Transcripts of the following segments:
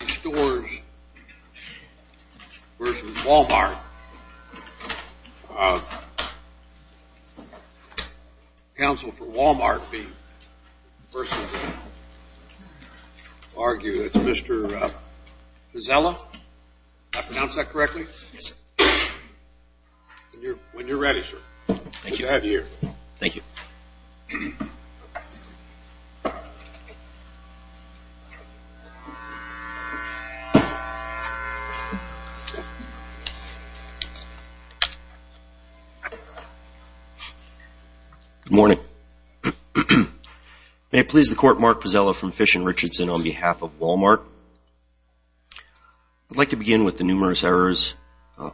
v. Wal-Mart. Council for Wal-Mart v. argue that Mr. Pizzella, did I pronounce that correctly? Yes, sir. Good morning. May it please the Court, Mark Pizzella from Fish and Richardson on behalf of Wal-Mart. I'd like to begin with the numerous errors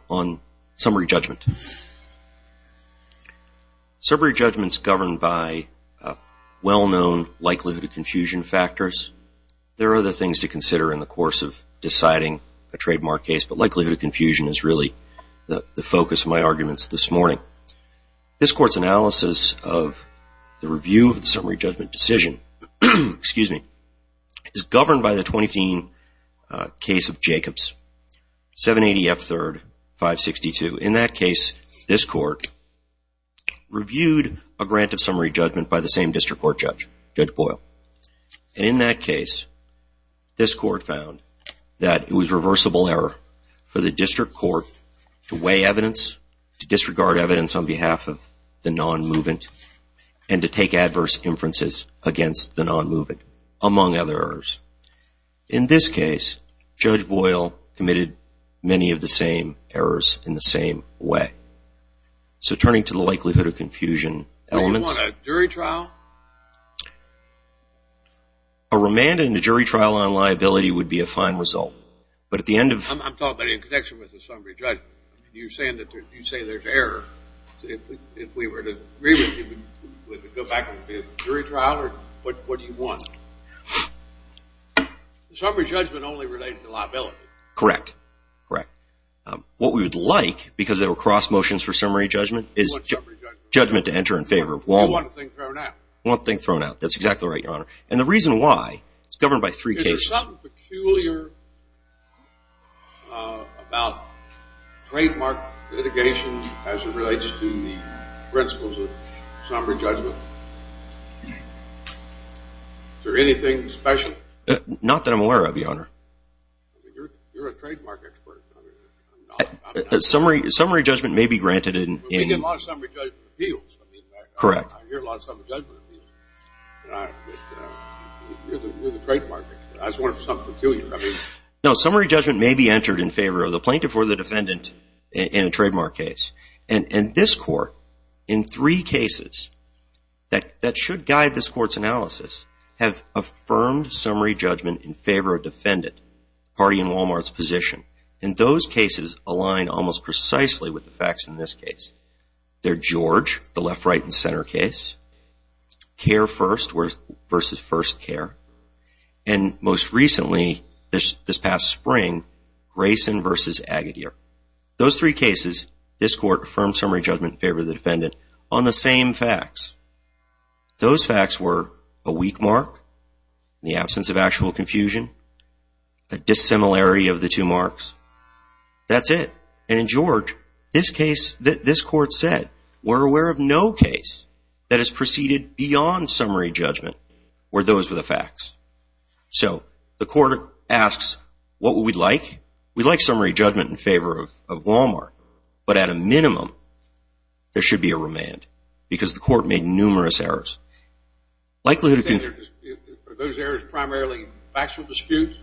on summary judgment. Summary judgment is governed by well-known likelihood of confusion factors. There are other things to consider in the course of deciding a trademark case, but likelihood of confusion is really the focus of my arguments this morning. This Court's analysis of the review of the summary judgment decision is governed by the 2015 case of Jacobs, 780 F. 3rd, 562. In that case, this Court reviewed a grant of summary judgment by the same district court judge, Judge Boyle. And in that case, this Court found that it was reversible error for the district court to weigh evidence, to disregard evidence on behalf of the non-movement, and to take adverse inferences against the non-movement, among other errors. In this case, Judge Boyle committed many of the same errors in the same way. So turning to the likelihood of confusion elements. Do you want a jury trial? A remand and a jury trial on liability would be a fine result. But at the end of... I'm talking about in connection with the summary judgment. You're saying that there's error. If we were to agree with you, would we go back to the jury trial, or what do you want? Summary judgment only related to liability. Correct. What we would like, because there were cross motions for summary judgment, is judgment to enter in favor. One thing thrown out. One thing thrown out. That's exactly right, Your Honor. And the reason why, it's governed by three cases. Is there something peculiar about trademark litigation as it relates to the principles of summary judgment? Is there anything special? You're a trademark expert. Summary judgment may be granted in... We get a lot of summary judgment appeals. Correct. I hear a lot of summary judgment appeals. You're the trademark expert. I was wondering if there was something peculiar. No, summary judgment may be entered in favor of the plaintiff or the defendant in a trademark case. And this court, in three cases, that should guide this court's analysis, have affirmed summary judgment in favor of defendant, party in Wal-Mart's position. And those cases align almost precisely with the facts in this case. They're George, the left, right, and center case. Kerr first versus first Kerr. And most recently, this past spring, Grayson versus Agadir. Those three cases, this court affirmed summary judgment in favor of the defendant on the same facts. Those facts were a weak mark, the absence of actual confusion, a dissimilarity of the two marks. That's it. And in George, this case, this court said, we're aware of no case that has proceeded beyond summary judgment where those were the facts. So, the court asks, what would we like? We'd like summary judgment in favor of Wal-Mart. But at a minimum, there should be a remand because the court made numerous errors. Likelihood of confusion. Are those errors primarily factual disputes?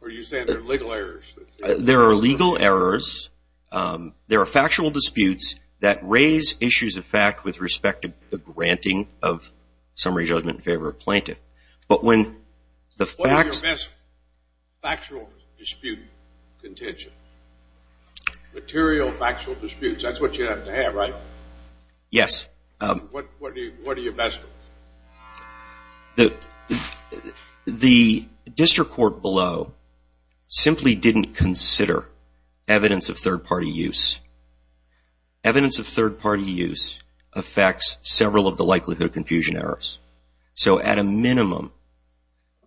Or are you saying they're legal errors? There are legal errors. There are factual disputes that raise issues of fact with respect to the granting of summary judgment in favor of plaintiff. What are your best factual dispute contentions? Material factual disputes. That's what you have to have, right? Yes. What are your best ones? The district court below simply didn't consider evidence of third-party use. Evidence of third-party use affects several of the likelihood of confusion errors. So, at a minimum,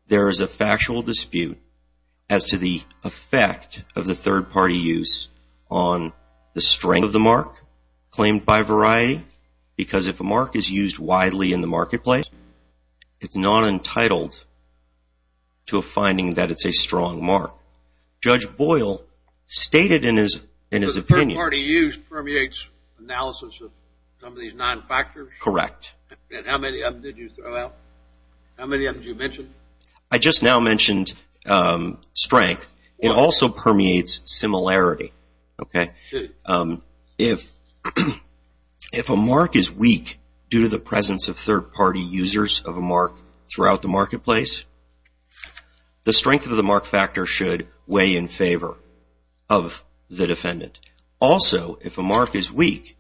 there is a factual dispute as to the effect of the third-party use on the strength of the mark claimed by Variety. Because if a mark is used widely in the marketplace, it's not entitled to a finding that it's a strong mark. Judge Boyle stated in his opinion. So, the third-party use permeates analysis of some of these nine factors? Correct. And how many of them did you throw out? How many of them did you mention? I just now mentioned strength. It also permeates similarity, okay? If a mark is weak due to the presence of third-party users of a mark throughout the marketplace, the strength of the mark factor should weigh in favor of the defendant. Also, if a mark is weak,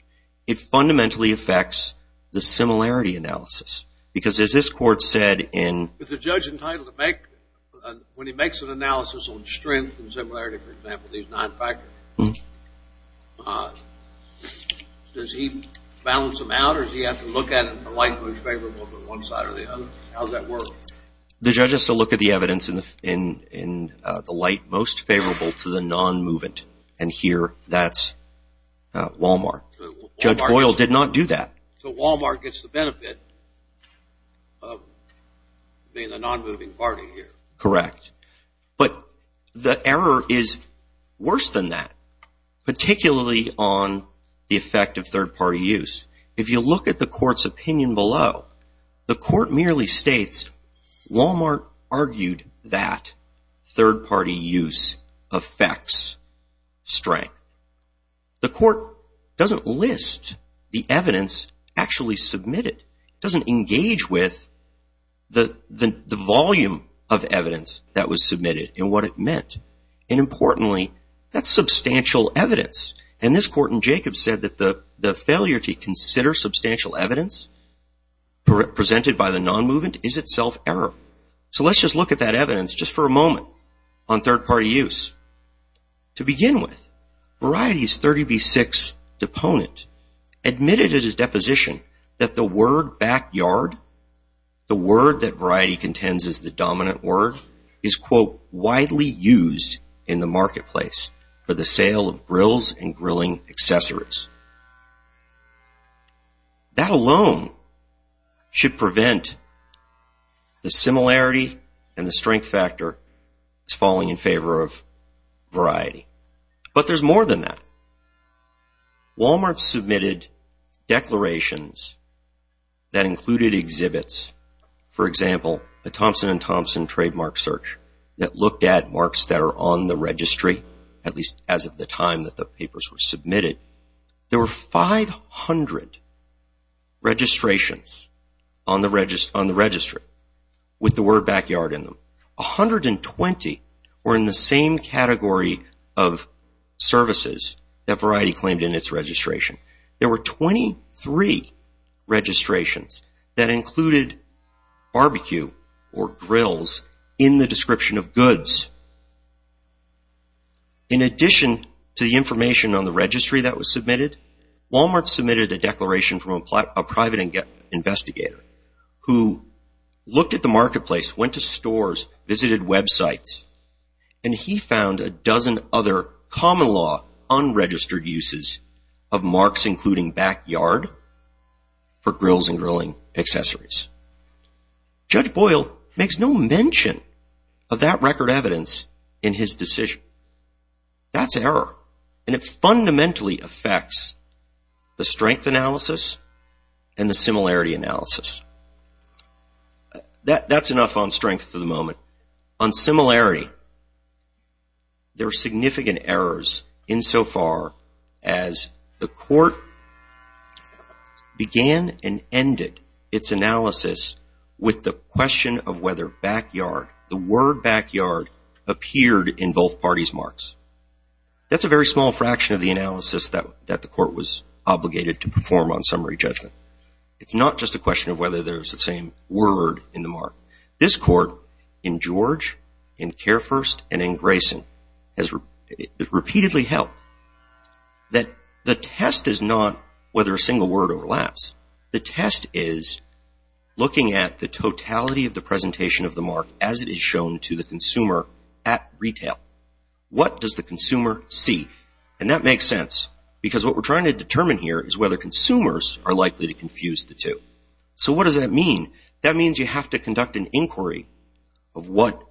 it fundamentally affects the similarity analysis. Because as this court said in... Is the judge entitled to make... When he makes an analysis on strength and similarity, for example, these nine factors, does he balance them out or does he have to look at them for light most favorable to one side or the other? How does that work? The judge has to look at the evidence in the light most favorable to the non-movement, and here that's Wal-Mart. Judge Boyle did not do that. So, Wal-Mart gets the benefit of being the non-moving party here? Correct. But the error is worse than that, particularly on the effect of third-party use. If you look at the court's opinion below, the court merely states, Wal-Mart argued that third-party use affects strength. The court doesn't list the evidence actually submitted. It doesn't engage with the volume of evidence that was submitted and what it meant. And importantly, that's substantial evidence. And this court in Jacobs said that the failure to consider substantial evidence presented by the non-movement is itself error. So let's just look at that evidence just for a moment on third-party use. To begin with, Variety's 30b-6 deponent admitted at his deposition that the word backyard, the word that Variety contends is the dominant word, is, quote, for the sale of grills and grilling accessories. That alone should prevent the similarity and the strength factor as falling in favor of Variety. But there's more than that. Wal-Mart submitted declarations that included exhibits. For example, the Thompson & Thompson trademark search that looked at marks that are on the registry, at least as of the time that the papers were submitted, there were 500 registrations on the registry with the word backyard in them. A hundred and twenty were in the same category of services that Variety claimed in its registration. There were 23 registrations that included barbecue or grills in the description of goods. In addition to the information on the registry that was submitted, Wal-Mart submitted a declaration from a private investigator who looked at the marketplace, went to stores, visited websites, and he found a dozen other common law unregistered uses of marks including backyard for grills and grilling accessories. Judge Boyle makes no mention of that record evidence in his decision. That's error, and it fundamentally affects the strength analysis and the similarity analysis. That's enough on strength for the moment. On similarity, there are significant errors insofar as the court began and ended its analysis with the question of whether backyard, the word backyard, appeared in both parties' marks. That's a very small fraction of the analysis that the court was obligated to perform on summary judgment. It's not just a question of whether there's the same word in the mark. This court in George, in Carefirst, and in Grayson has repeatedly held that the test is not whether a single word overlaps. The test is looking at the totality of the presentation of the mark as it is shown to the consumer at retail. What does the consumer see? And that makes sense because what we're trying to determine here is whether consumers are likely to confuse the two. So what does that mean? That means you have to conduct an inquiry of what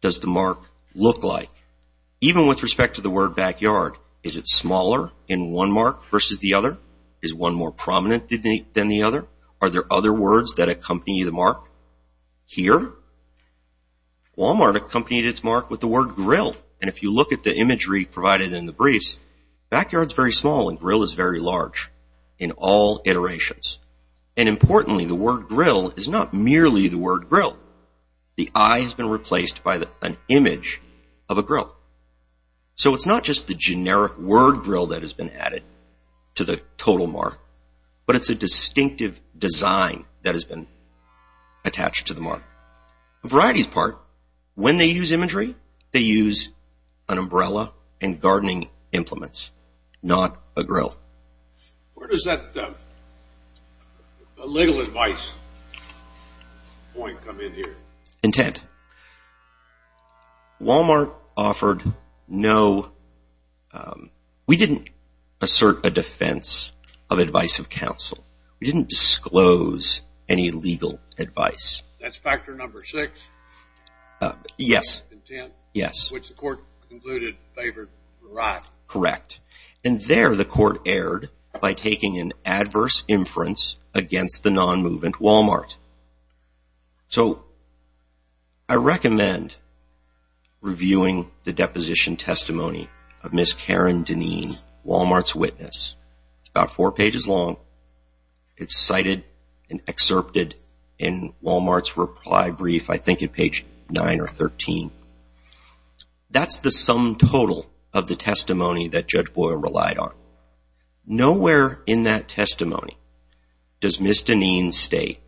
does the mark look like. Even with respect to the word backyard, is it smaller in one mark versus the other? Is one more prominent than the other? Are there other words that accompany the mark here? Walmart accompanied its mark with the word grill. And if you look at the imagery provided in the briefs, backyard's very small and grill is very large in all iterations. And importantly, the word grill is not merely the word grill. The I has been replaced by an image of a grill. So it's not just the generic word grill that has been added to the total mark, but it's a distinctive design that has been attached to the mark. Variety's part, when they use imagery, they use an umbrella and gardening implements, not a grill. Where does that legal advice point come in here? Intent. Walmart offered no, we didn't assert a defense of advice of counsel. We didn't disclose any legal advice. That's factor number six? Yes. Intent. Yes. Which the court concluded favored variety. Correct. And there the court erred by taking an adverse inference against the non-movement Walmart. So I recommend reviewing the deposition testimony of Ms. Karen Deneen, Walmart's witness. It's about four pages long. It's cited and excerpted in Walmart's reply brief, I think at page nine or 13. That's the sum total of the testimony that Judge Boyle relied on. Nowhere in that testimony does Ms. Deneen state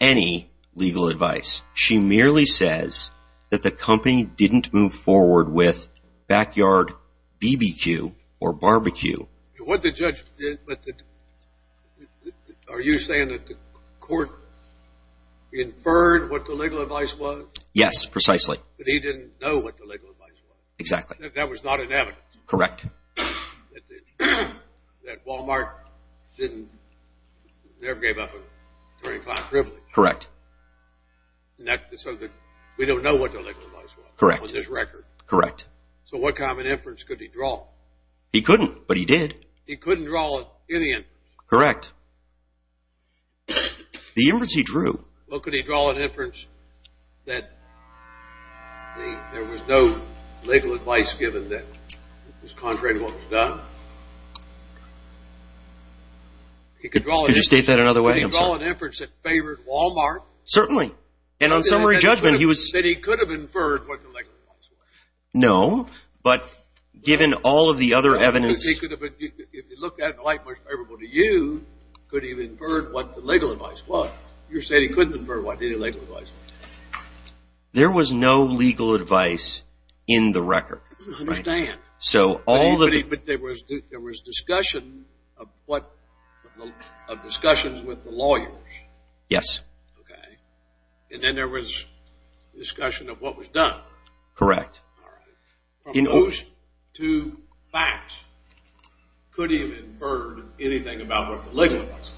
any legal advice. She merely says that the company didn't move forward with backyard BBQ or barbecue. Are you saying that the court inferred what the legal advice was? Yes, precisely. But he didn't know what the legal advice was. Exactly. That was not in evidence. Correct. That Walmart never gave up a three-and-a-half privilege. Correct. So we don't know what the legal advice was. Correct. It was his record. Correct. So what kind of an inference could he draw? He couldn't, but he did. He couldn't draw any inference. Correct. The inference he drew. Well, could he draw an inference that there was no legal advice given that was contrary to what was done? Could you state that another way? Could he draw an inference that favored Walmart? Certainly. And on summary judgment, he was... That he could have inferred what the legal advice was. No, but given all of the other evidence... If he looked at it and thought it was favorable to you, could he have inferred what the legal advice was? You're saying he couldn't infer what the legal advice was. There was no legal advice in the record. I understand. So all of the... But there was discussion of discussions with the lawyers. Yes. Okay. And then there was discussion of what was done. Correct. All right. From those two facts, could he have inferred anything about what the legal advice was?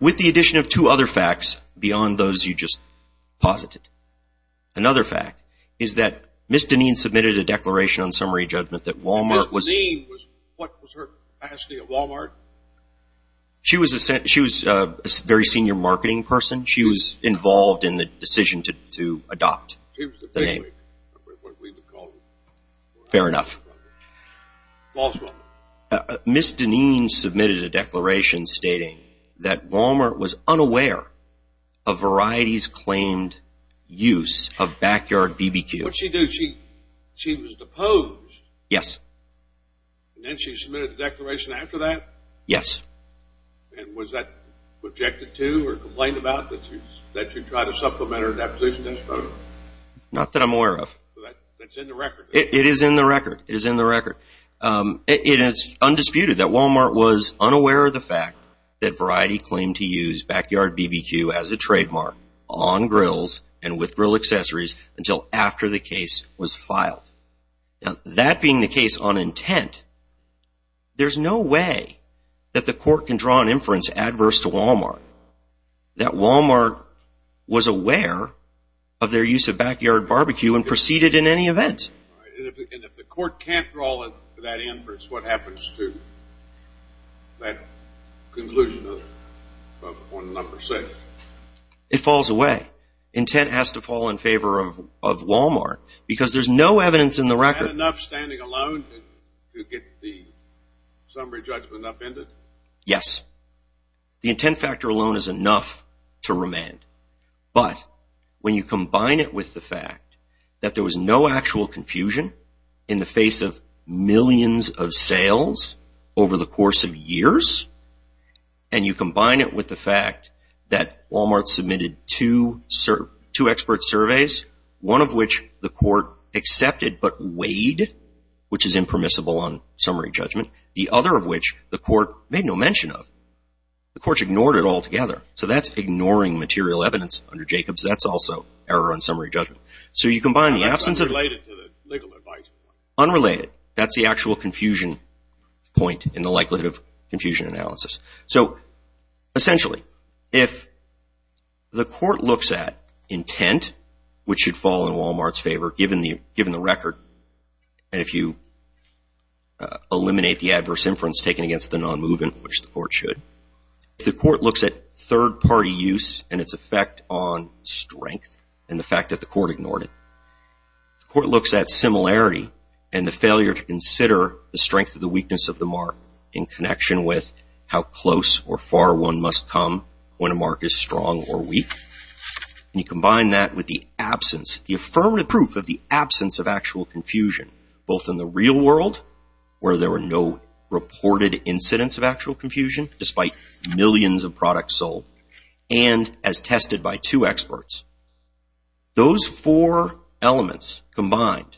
With the addition of two other facts beyond those you just posited. Another fact is that Ms. Deneen submitted a declaration on summary judgment that Walmart was... Ms. Deneen was what was her asking of Walmart? She was a very senior marketing person. She was involved in the decision to adopt the name. She was the bigwig, what we would call... Fair enough. False Walmart. Ms. Deneen submitted a declaration stating that Walmart was unaware of Variety's claimed use of Backyard BBQ. What did she do? She was deposed. Yes. And then she submitted a declaration after that? Yes. And was that objected to or complained about that you tried to supplement her deposition? Not that I'm aware of. It is in the record. It is in the record. It is undisputed that Walmart was unaware of the fact that Variety claimed to use Backyard BBQ as a trademark on grills and with grill accessories until after the case was filed. That being the case on intent, there's no way that the court can draw an inference adverse to Walmart that Walmart was aware of their use of Backyard BBQ and proceeded in any event. And if the court can't draw that inference, what happens to that conclusion on number six? It falls away. Intent has to fall in favor of Walmart because there's no evidence in the record. Is that enough standing alone to get the summary judgment upended? Yes. The intent factor alone is enough to remand. But when you combine it with the fact that there was no actual confusion in the face of millions of sales over the course of years, and you combine it with the fact that Walmart submitted two expert surveys, one of which the court accepted but weighed, which is impermissible on summary judgment, the other of which the court made no mention of, the court ignored it altogether. So that's ignoring material evidence under Jacobs. That's also error on summary judgment. So you combine the absence of... That's unrelated to the legal advice. Unrelated. That's the actual confusion point in the likelihood of confusion analysis. So essentially, if the court looks at intent, which should fall in Walmart's favor given the record, and if you eliminate the adverse inference taken against the non-movement, which the court should, if the court looks at third-party use and its effect on strength and the fact that the court ignored it, if the court looks at similarity and the failure to consider the strength of the weakness of the mark in connection with how close or far one must come when a mark is strong or weak, and you combine that with the absence, the affirmative proof of the absence of actual confusion, both in the real world, where there were no reported incidents of actual confusion, despite millions of products sold, and as tested by two experts, those four elements combined,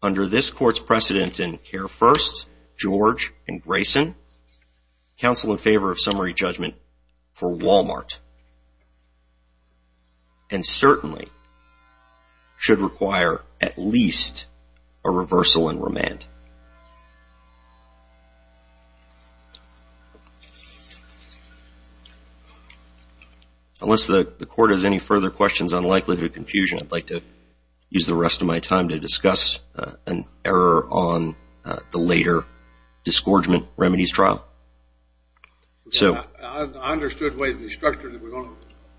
under this court's precedent in Kerr first, George, and Grayson, counsel in favor of summary judgment for Walmart, and certainly should require at least a reversal in remand. Unless the court has any further questions on likelihood of confusion, I'd like to use the rest of my time to discuss an error on the later disgorgement remedies trial.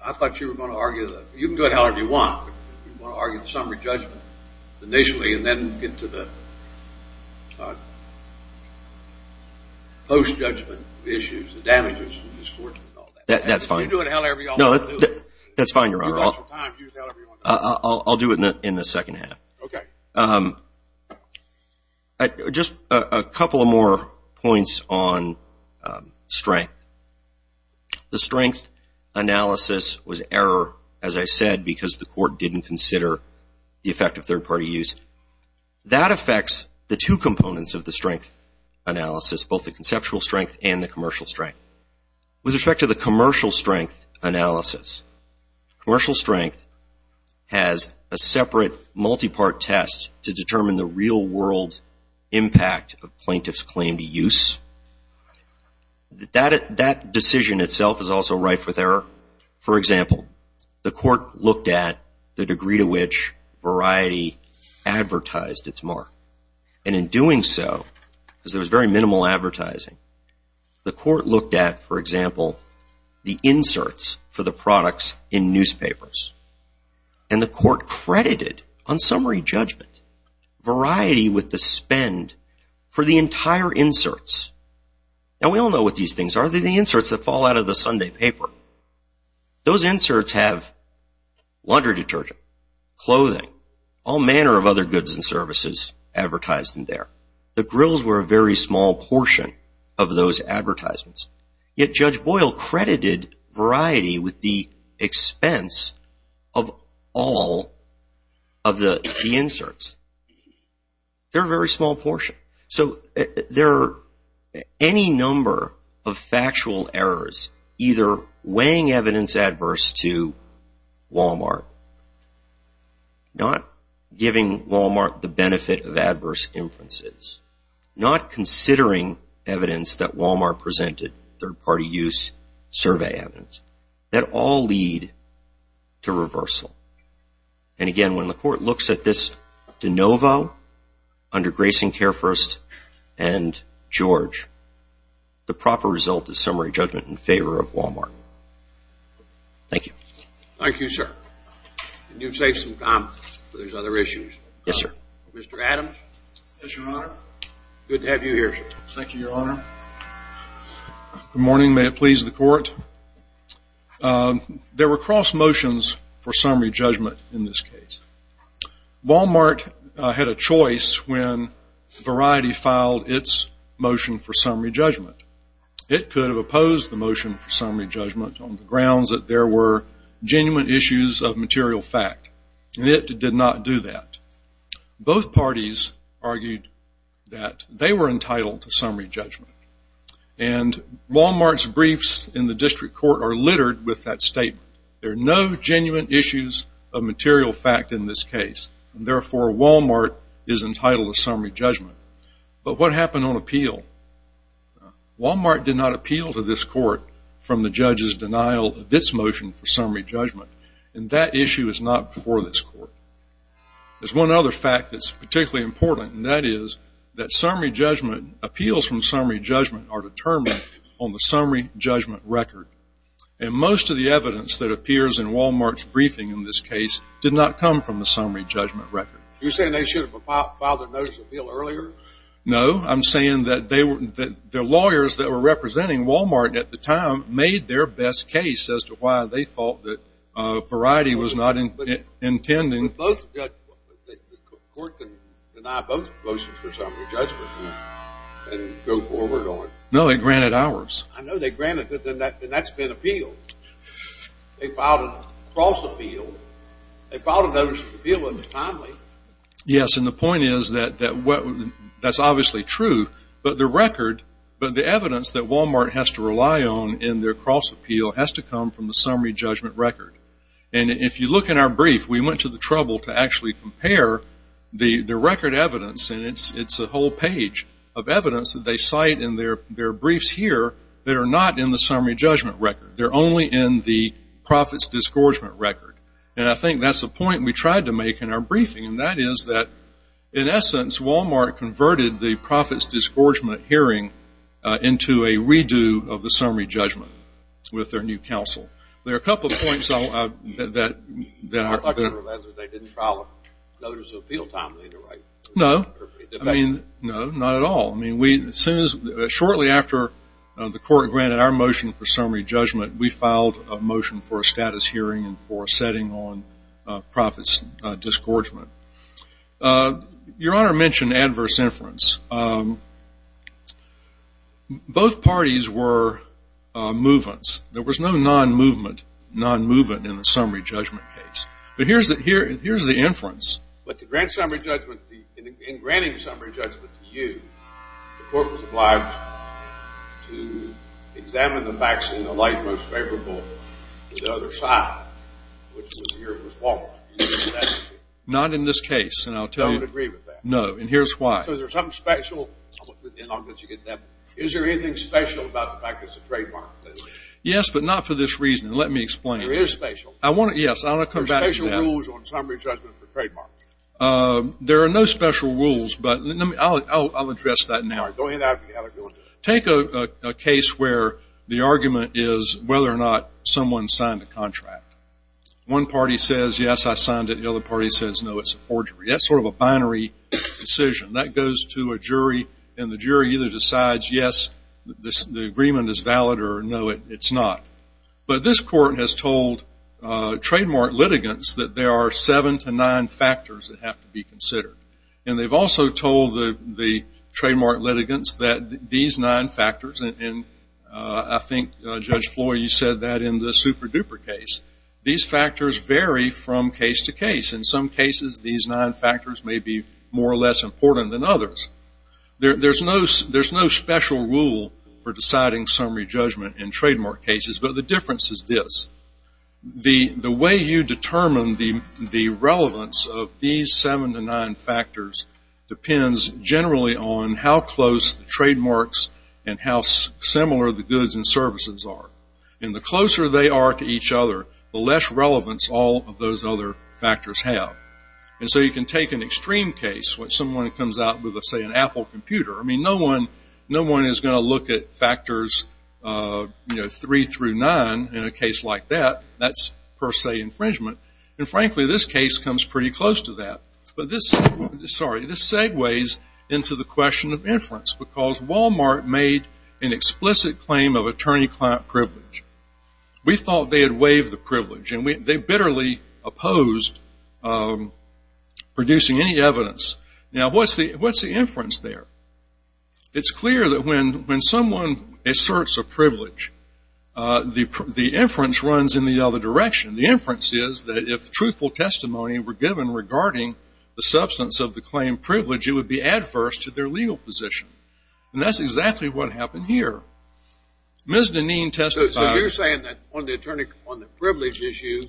I thought you were going to argue that you can do it however you want, but you want to argue the summary judgment initially and then get to the post-judgment issues, the damages and disgorgement and all that. That's fine. You can do it however you want. That's fine, Your Honor. I'll do it in the second half. Okay. Just a couple more points on strength. The strength analysis was error, as I said, because the court didn't consider the effect of third-party use. That affects the two components of the strength analysis, both the conceptual strength and the commercial strength. With respect to the commercial strength analysis, commercial strength has a separate multi-part test to determine the real-world impact of plaintiff's claim to use. That decision itself is also rife with error. For example, the court looked at the degree to which Variety advertised its mark. In doing so, because there was very minimal advertising, the court looked at, for example, the inserts for the products in newspapers. The court credited on summary judgment Variety with the spend for the entire inserts. We all know what these things are. They're the inserts that fall out of the Sunday paper. Those inserts have laundry detergent, clothing, all manner of other goods and services advertised in there. The grills were a very small portion of those advertisements. Yet Judge Boyle credited Variety with the expense of all of the inserts. They're a very small portion. There are any number of factual errors, either weighing evidence adverse to Wal-Mart, not giving Wal-Mart the benefit of adverse inferences, not considering evidence that Wal-Mart presented, third-party use survey evidence, that all lead to reversal. And again, when the court looks at this de novo under Grayson Carefirst and George, the proper result is summary judgment in favor of Wal-Mart. Thank you. Thank you, sir. Can you save some time for these other issues? Yes, sir. Mr. Adams? Yes, Your Honor. Good to have you here, sir. Thank you, Your Honor. Good morning. May it please the Court. There were cross motions for summary judgment in this case. Wal-Mart had a choice when Variety filed its motion for summary judgment. It could have opposed the motion for summary judgment on the grounds that there were genuine issues of material fact, and it did not do that. Both parties argued that they were entitled to summary judgment, and Wal-Mart's briefs in the district court are littered with that statement. There are no genuine issues of material fact in this case, and therefore Wal-Mart is entitled to summary judgment. But what happened on appeal? Wal-Mart did not appeal to this court from the judge's denial of its motion for summary judgment, and that issue is not before this court. There's one other fact that's particularly important, and that is that summary judgment appeals from summary judgment are determined on the summary judgment record. And most of the evidence that appears in Wal-Mart's briefing in this case did not come from the summary judgment record. You're saying they should have filed a notice of appeal earlier? No. I'm saying that the lawyers that were representing Wal-Mart at the time made their best case as to why they thought that Variety was not intending. The court can deny both motions for summary judgment and go forward on it. No, they granted ours. I know they granted it, and that's been appealed. They filed a cross appeal. They filed a notice of appeal in the timeline. Yes, and the point is that that's obviously true, but the record, but the evidence that Wal-Mart has to rely on in their cross appeal has to come from the summary judgment record. And if you look in our brief, we went to the trouble to actually compare the record evidence, and it's a whole page of evidence that they cite in their briefs here that are not in the summary judgment record. They're only in the profits disgorgement record. And I think that's the point we tried to make in our briefing, and that is that in essence Wal-Mart converted the profits disgorgement hearing into a redo of the summary judgment with their new counsel. There are a couple of points that I'll add. They didn't file a notice of appeal timeline, right? No. I mean, no, not at all. I mean, shortly after the court granted our motion for summary judgment, we filed a motion for a status hearing and for a setting on profits disgorgement. Your Honor mentioned adverse inference. Both parties were movements. There was no non-movement in the summary judgment case. But here's the inference. But to grant summary judgment, in granting summary judgment to you, the court was obliged to examine the facts in the light most favorable to the other side, which was your response. Do you agree with that? Not in this case, and I'll tell you. I would agree with that. No, and here's why. So is there something special? And I'll let you get that. Is there anything special about the fact it's a trademark? Yes, but not for this reason. Let me explain. There is special. Yes, I want to come back to that. Are there special rules on summary judgment for trademarks? There are no special rules, but I'll address that now. All right. Go ahead. Take a case where the argument is whether or not someone signed a contract. One party says, yes, I signed it. The other party says, no, it's a forgery. That's sort of a binary decision. That goes to a jury, and the jury either decides yes, the agreement is valid, or no, it's not. But this court has told trademark litigants that there are seven to nine factors that have to be considered. And they've also told the trademark litigants that these nine factors, and I think, Judge Floyd, you said that in the SuperDuper case, these factors vary from case to case. In some cases, these nine factors may be more or less important than others. There's no special rule for deciding summary judgment in trademark cases, but the difference is this. The way you determine the relevance of these seven to nine factors depends generally on how close the trademarks and how similar the goods and services are. And the closer they are to each other, the less relevance all of those other factors have. And so you can take an extreme case, where someone comes out with, say, an Apple computer. I mean, no one is going to look at factors three through nine in a case like that. That's per se infringement. And frankly, this case comes pretty close to that. But this segues into the question of inference, because Walmart made an explicit claim of attorney-client privilege. We thought they had waived the privilege, and they bitterly opposed producing any evidence. Now, what's the inference there? It's clear that when someone asserts a privilege, the inference runs in the other direction. The inference is that if truthful testimony were given regarding the substance of the claim privilege, it would be adverse to their legal position. And that's exactly what happened here. Ms. Deneen testified. So you're saying that on the privilege issue,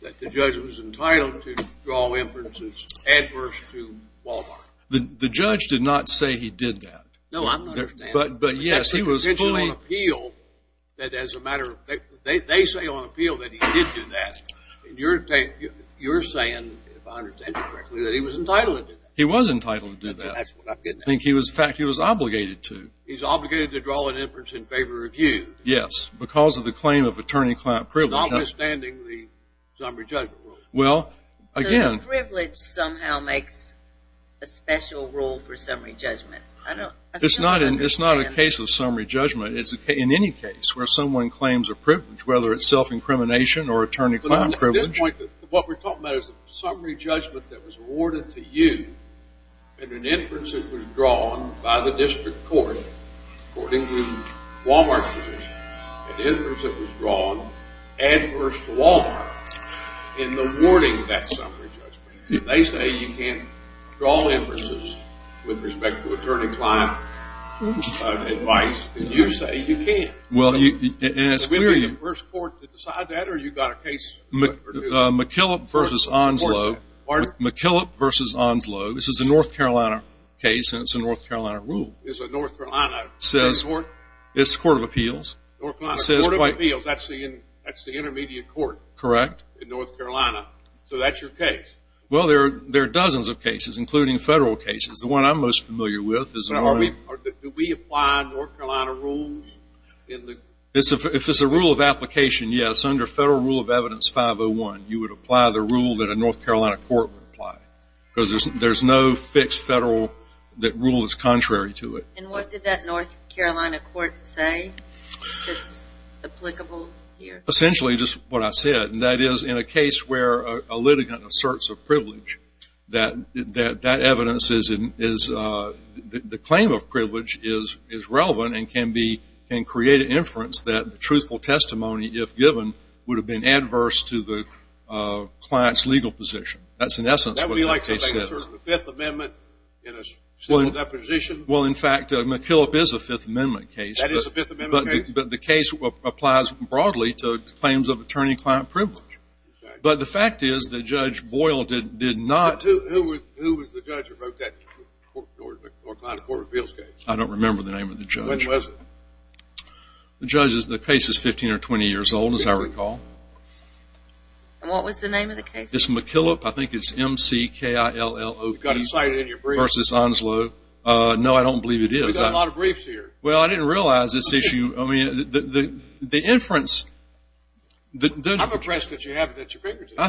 that the judge was entitled to draw inferences adverse to Walmart? The judge did not say he did that. No, I don't understand. But, yes, he was fully – But there's a convention on appeal that as a matter of – they say on appeal that he did do that. He was entitled to do that. That's what I'm getting at. In fact, he was obligated to. He's obligated to draw an inference in favor of you. Yes, because of the claim of attorney-client privilege. Notwithstanding the summary judgment rule. Well, again – So the privilege somehow makes a special rule for summary judgment. I don't understand. It's not a case of summary judgment. In any case, where someone claims a privilege, whether it's self-incrimination or attorney-client privilege – And an inference that was drawn by the district court according to Walmart's position. An inference that was drawn adverse to Walmart in the warning of that summary judgment. And they say you can't draw inferences with respect to attorney-client advice. And you say you can't. Well, you – It's going to be the first court to decide that, or you've got a case – McKillop versus Onslow. McKillop versus Onslow. This is a North Carolina case, and it's a North Carolina rule. It's a North Carolina court? It's a court of appeals. A court of appeals. That's the intermediate court. Correct. In North Carolina. So that's your case. Well, there are dozens of cases, including federal cases. The one I'm most familiar with is – Do we apply North Carolina rules in the – If it's a rule of application, yes. If it's under federal rule of evidence 501, you would apply the rule that a North Carolina court would apply. Because there's no fixed federal rule that's contrary to it. And what did that North Carolina court say that's applicable here? Essentially just what I said, and that is in a case where a litigant asserts a privilege, that evidence is – the claim of privilege is relevant and can be – that the truthful testimony, if given, would have been adverse to the client's legal position. That's in essence what that case says. That would be like something sort of the Fifth Amendment in a civil deposition. Well, in fact, McKillop is a Fifth Amendment case. That is a Fifth Amendment case? But the case applies broadly to claims of attorney-client privilege. But the fact is that Judge Boyle did not – Who was the judge that wrote that North Carolina court of appeals case? I don't remember the name of the judge. When was it? The judge is – the case is 15 or 20 years old, as I recall. And what was the name of the case? It's McKillop. I think it's M-C-K-I-L-L-O-P. You've got it cited in your briefs. Versus Onslow. No, I don't believe it is. You've got a lot of briefs here. Well, I didn't realize this issue – I mean, the inference – I'm impressed that you have it at your fingertips. I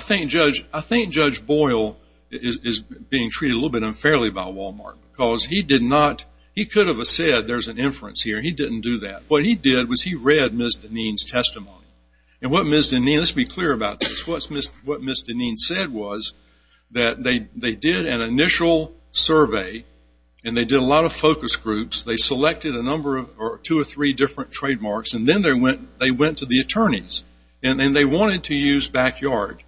think Judge Boyle is being treated a little bit unfairly by Walmart because he did not – he could have said there's an inference here. He didn't do that. What he did was he read Ms. Dineen's testimony. And what Ms. Dineen – let's be clear about this. What Ms. Dineen said was that they did an initial survey, and they did a lot of focus groups. They selected a number of – or two or three different trademarks, and then they went to the attorneys. And then they wanted to use Backyard.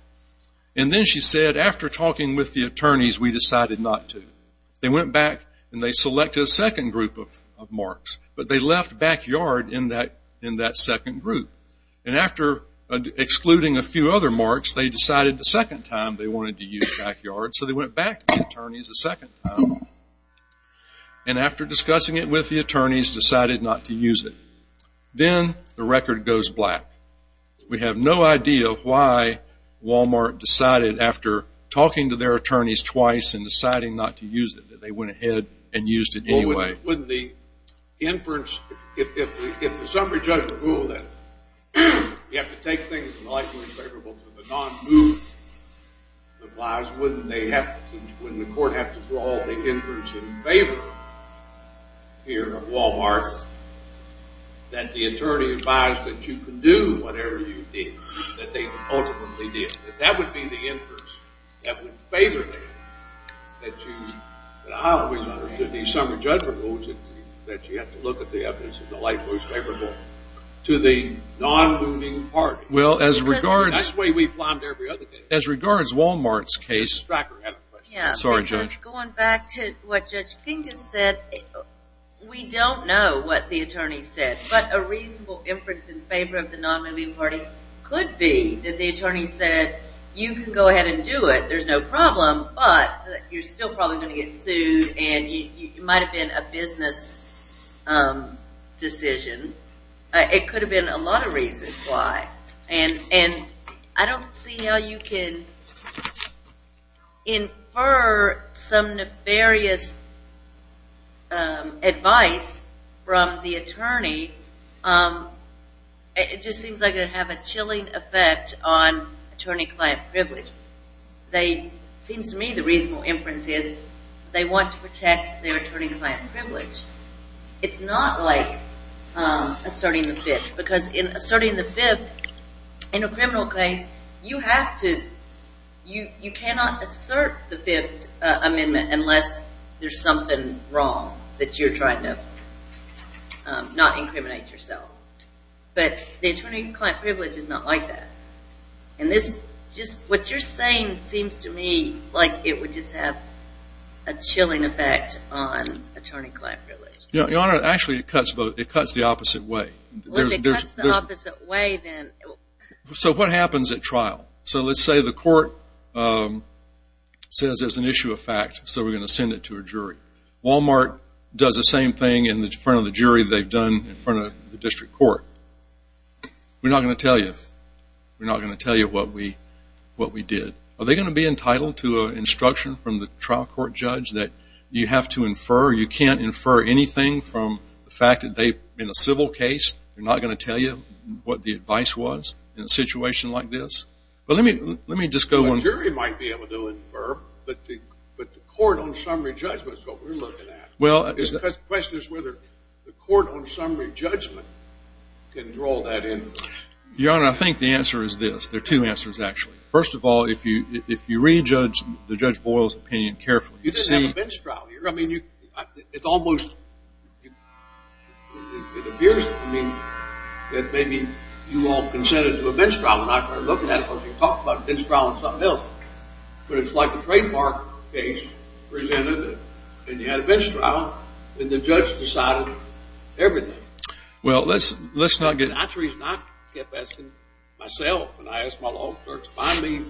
And then she said, after talking with the attorneys, we decided not to. They went back, and they selected a second group of marks. But they left Backyard in that second group. And after excluding a few other marks, they decided the second time they wanted to use Backyard, so they went back to the attorneys a second time. And after discussing it with the attorneys, decided not to use it. Then the record goes black. We have no idea why Walmart decided, after talking to their attorneys twice and deciding not to use it, that they went ahead and used it anyway. Wouldn't the inference – if the summary judgment rule, that you have to take things in the likely favorable to the non-moot, wouldn't the court have to draw the inference in favor here of Walmart that the attorney advised that you could do whatever you did, that they ultimately did? If that would be the inference, that would favor them, that I always understood the summary judgment rules, that you have to look at the evidence in the like most favorable to the non-mooting party. That's the way we plumbed every other case. As regards Walmart's case – Mr. Stryker, I have a question. Sorry, Judge. Going back to what Judge King just said, we don't know what the attorney said. But a reasonable inference in favor of the non-mooting party could be that the attorney said, you can go ahead and do it, there's no problem. But you're still probably going to get sued, and it might have been a business decision. It could have been a lot of reasons why. And I don't see how you can infer some nefarious advice from the attorney. It just seems like it would have a chilling effect on attorney-client privilege. It seems to me the reasonable inference is they want to protect their attorney-client privilege. It's not like asserting the Fifth. Because in asserting the Fifth in a criminal case, you cannot assert the Fifth Amendment unless there's something wrong that you're trying to not incriminate yourself. But the attorney-client privilege is not like that. What you're saying seems to me like it would just have a chilling effect on attorney-client privilege. Your Honor, actually it cuts the opposite way. Well, if it cuts the opposite way, then... So what happens at trial? So let's say the court says there's an issue of fact, so we're going to send it to a jury. Walmart does the same thing in front of the jury they've done in front of the district court. We're not going to tell you. We're not going to tell you what we did. Are they going to be entitled to an instruction from the trial court judge that you have to infer or you can't infer anything from the fact that in a civil case they're not going to tell you what the advice was in a situation like this? Well, let me just go one... A jury might be able to infer, but the court on summary judgment is what we're looking at. The question is whether the court on summary judgment can draw that in. Your Honor, I think the answer is this. There are two answers, actually. First of all, if you re-judge the Judge Boyle's opinion carefully... You didn't have a bench trial here. I mean, it's almost... It appears that maybe you all consented to a bench trial. We're not going to look at it unless you talk about a bench trial and something else. But it's like a trademark case presented, and you had a bench trial, and the judge decided everything. Well, let's not get... I actually kept asking myself when I asked my law clerk to find me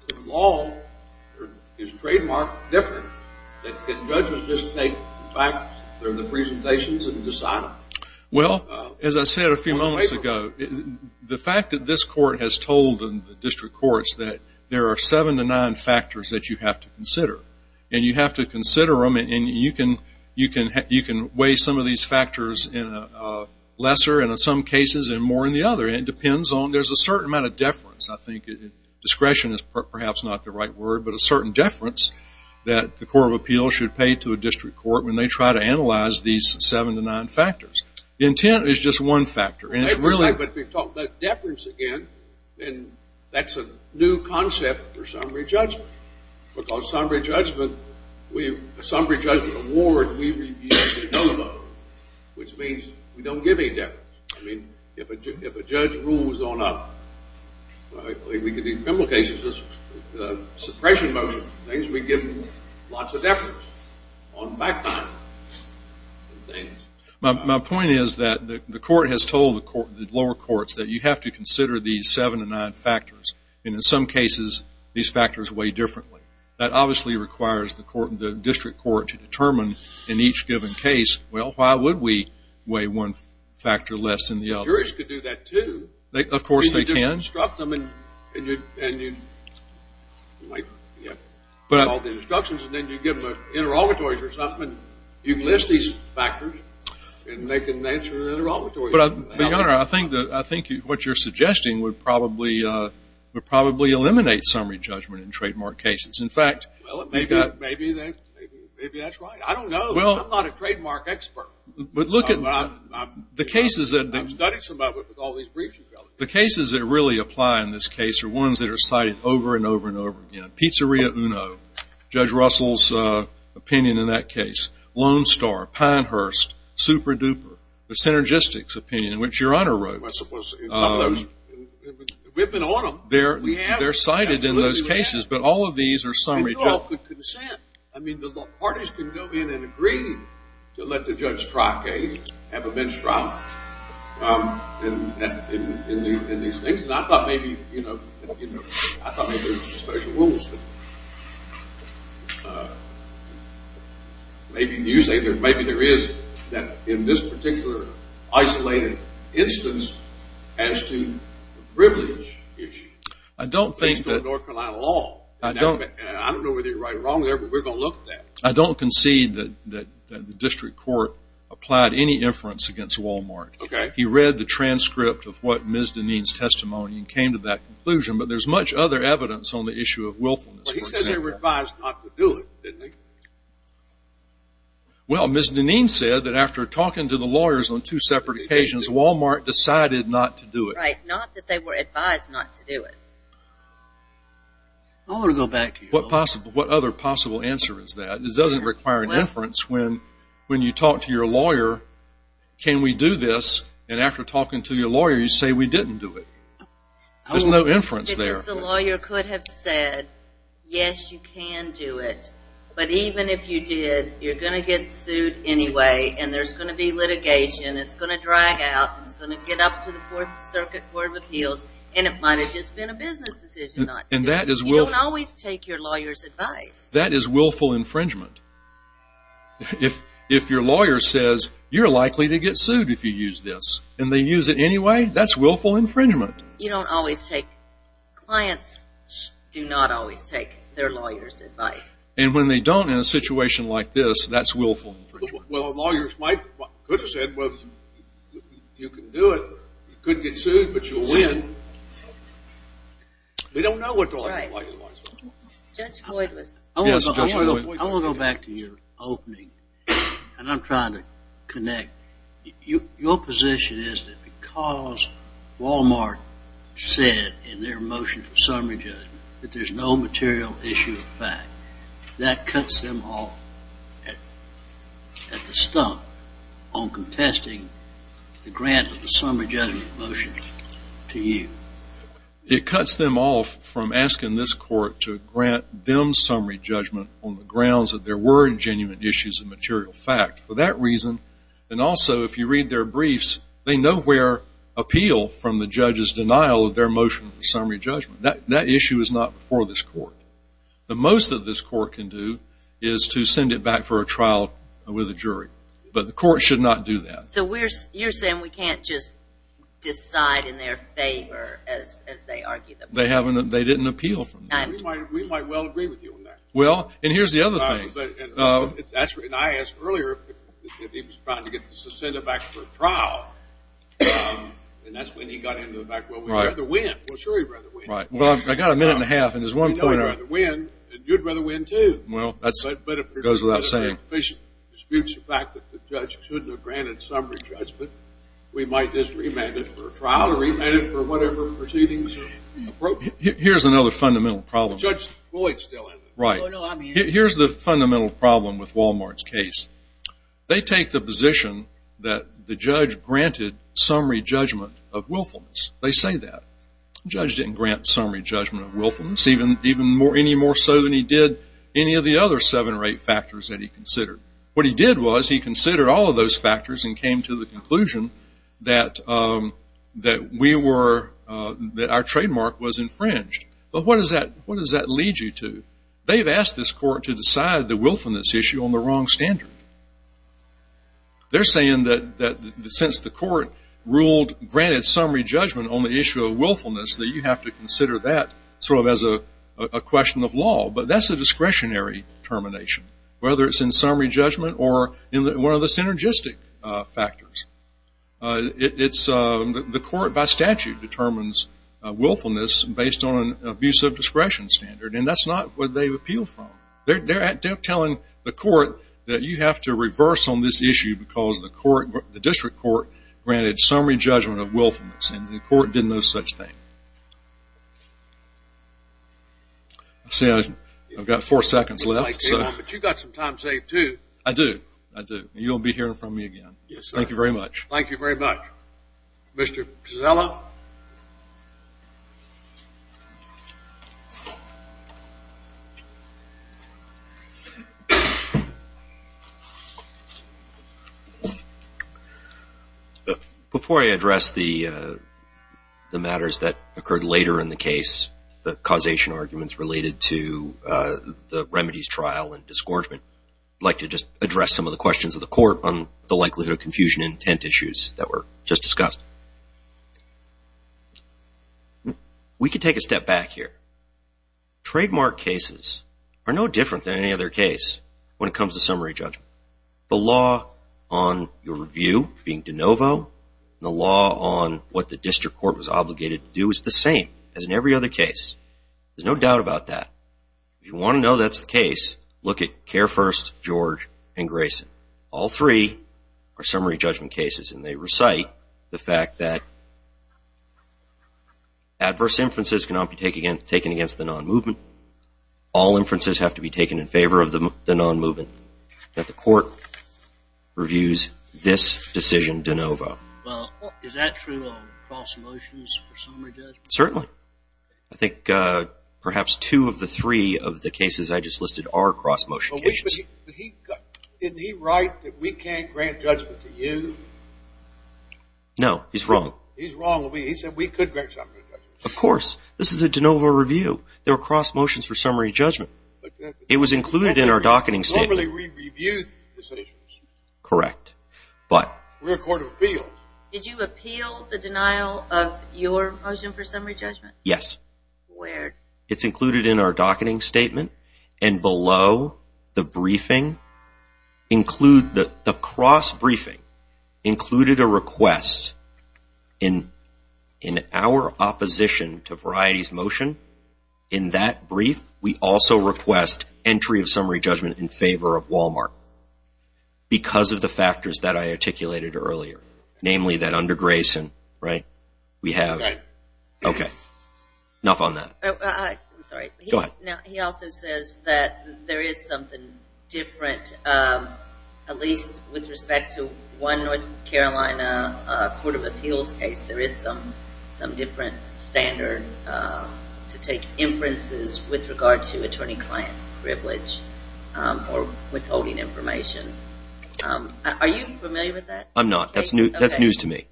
if the law is trademarked different, that judges just take the facts from the presentations and decide them. Well, as I said a few moments ago, the fact that this court has told the district courts that there are seven to nine factors that you have to consider, and you have to consider them, and you can weigh some of these factors in a lesser and in some cases and more in the other. It depends on... There's a certain amount of deference, I think. Discretion is perhaps not the right word, but a certain deference that the Court of Appeals should pay to a district court when they try to analyze these seven to nine factors. Intent is just one factor, and it's really... But we've talked about deference again, and that's a new concept for summary judgment because summary judgment, a summary judgment award, we review it as a no vote, which means we don't give any deference. I mean, if a judge rules on a... We could do criminal cases, suppression motions, things we give lots of deference on back time and things. My point is that the court has told the lower courts that you have to consider these seven to nine factors, and in some cases these factors weigh differently. That obviously requires the district court to determine in each given case, well, why would we weigh one factor less than the other? Juries could do that too. Of course they can. You just instruct them and you... You give them the instructions and then you give them the interrogatories or something. You list these factors and they can answer the interrogatories. But, Your Honor, I think what you're suggesting would probably eliminate summary judgment in trademark cases. In fact... Well, maybe that's right. I don't know. I'm not a trademark expert. But look at the cases that... I'm studying some of it with all these briefings. The cases that really apply in this case are ones that are cited over and over and over again. Pizzeria Uno, Judge Russell's opinion in that case. Lone Star, Pinehurst, Super Duper. The Synergistics opinion, which Your Honor wrote. I suppose some of those... We've been on them. They're cited in those cases, but all of these are summary... I mean, you all could consent. I mean, the parties can go in and agree to let the judge try a case, have a bench trial in these things. And I thought maybe, you know, I thought maybe there were special rules. Maybe you say that maybe there is, that in this particular isolated instance, as to the privilege issue. I don't think that... Based on North Carolina law. I don't know whether you're right or wrong there, but we're going to look at that. I don't concede that the district court applied any inference against Walmart. Okay. He read the transcript of what Ms. Deneen's testimony and came to that conclusion. But there's much other evidence on the issue of willfulness. But he said they were advised not to do it, didn't he? Well, Ms. Deneen said that after talking to the lawyers on two separate occasions, Walmart decided not to do it. Right. Not that they were advised not to do it. I want to go back to you. What other possible answer is that? This doesn't require an inference. When you talk to your lawyer, can we do this? And after talking to your lawyer, you say we didn't do it. There's no inference there. The lawyer could have said, yes, you can do it. But even if you did, you're going to get sued anyway, and there's going to be litigation. It's going to drag out. It's going to get up to the Fourth Circuit Court of Appeals, and it might have just been a business decision not to do it. You don't always take your lawyer's advice. That is willful infringement. If your lawyer says, you're likely to get sued if you use this, and they use it anyway, that's willful infringement. You don't always take – clients do not always take their lawyer's advice. And when they don't in a situation like this, that's willful infringement. Well, a lawyer could have said, well, you can do it. You couldn't get sued, but you'll win. They don't know what the lawyer's advice is. Judge Voidless. Yes, Judge Voidless. I want to go back to your opening, and I'm trying to connect. Your position is that because Walmart said in their motion for summary judgment that there's no material issue of fact, that cuts them off at the stump on contesting the grant of the summary judgment motion to you. It cuts them off from asking this court to grant them summary judgment on the grounds that there were genuine issues of material fact. For that reason, and also if you read their briefs, they nowhere appeal from the judge's denial of their motion for summary judgment. That issue is not before this court. The most that this court can do is to send it back for a trial with a jury. But the court should not do that. So you're saying we can't just decide in their favor, as they argue. They didn't appeal. We might well agree with you on that. Well, and here's the other thing. I asked earlier if he was trying to get this to send it back for a trial, and that's when he got into the back row. We'd rather win. Well, sure, he'd rather win. Well, I got a minute and a half, and there's one point. We'd rather win, and you'd rather win, too. Well, that goes without saying. But it produces an inefficient dispute to the fact that the judge shouldn't have granted summary judgment. We might just remand it for a trial or remand it for whatever proceedings are appropriate. Here's another fundamental problem. Judge Void still has it. Right. Here's the fundamental problem with Walmart's case. They take the position that the judge granted summary judgment of willfulness. They say that. The judge didn't grant summary judgment of willfulness, any more so than he did any of the other seven or eight factors that he considered. What he did was he considered all of those factors and came to the conclusion that our trademark was infringed. But what does that lead you to? They've asked this court to decide the willfulness issue on the wrong standard. They're saying that since the court ruled granted summary judgment on the issue of willfulness, that you have to consider that sort of as a question of law. But that's a discretionary termination, whether it's in summary judgment or in one of the synergistic factors. The court by statute determines willfulness based on an abuse of discretion standard, and that's not what they appeal from. They're telling the court that you have to reverse on this issue because the district court granted summary judgment of willfulness, and the court did no such thing. I've got four seconds left. But you've got some time saved, too. I do. I do. And you'll be hearing from me again. Thank you very much. Thank you very much. Mr. Zella? Before I address the matters that occurred later in the case, the causation arguments related to the remedies trial and disgorgement, I'd like to just address some of the questions of the court on the likelihood of confusion and intent issues that were just discussed. We could take a step back here. Trademark cases are no different than any other case when it comes to summary judgment. The law on your review, being de novo, and the law on what the district court was obligated to do is the same as in every other case. There's no doubt about that. If you want to know that's the case, look at CareFirst, George, and Grayson. All three are summary judgment cases, and they recite the fact that adverse inferences cannot be taken against the non-movement. All inferences have to be taken in favor of the non-movement. The court reviews this decision de novo. Well, is that true of cross motions for summary judgment? Certainly. I think perhaps two of the three of the cases I just listed are cross motion cases. Isn't he right that we can't grant judgment to you? No, he's wrong. He's wrong with me. He said we could grant summary judgment. Of course. This is a de novo review. There are cross motions for summary judgment. It was included in our docketing statement. Normally we review decisions. Correct. We're a court of appeal. Did you appeal the denial of your motion for summary judgment? Yes. Where? It's included in our docketing statement, and below the briefing, the cross briefing, included a request in our opposition to Variety's motion. In that brief, we also request entry of summary judgment in favor of Walmart because of the factors that I articulated earlier, namely that under Grayson, right, we have. Right. Okay. Enough on that. I'm sorry. Go ahead. He also says that there is something different, at least with respect to one North Carolina court of appeals case, there is some different standard to take inferences with regard to attorney-client privilege or withholding information. Are you familiar with that? I'm not. That's news to me.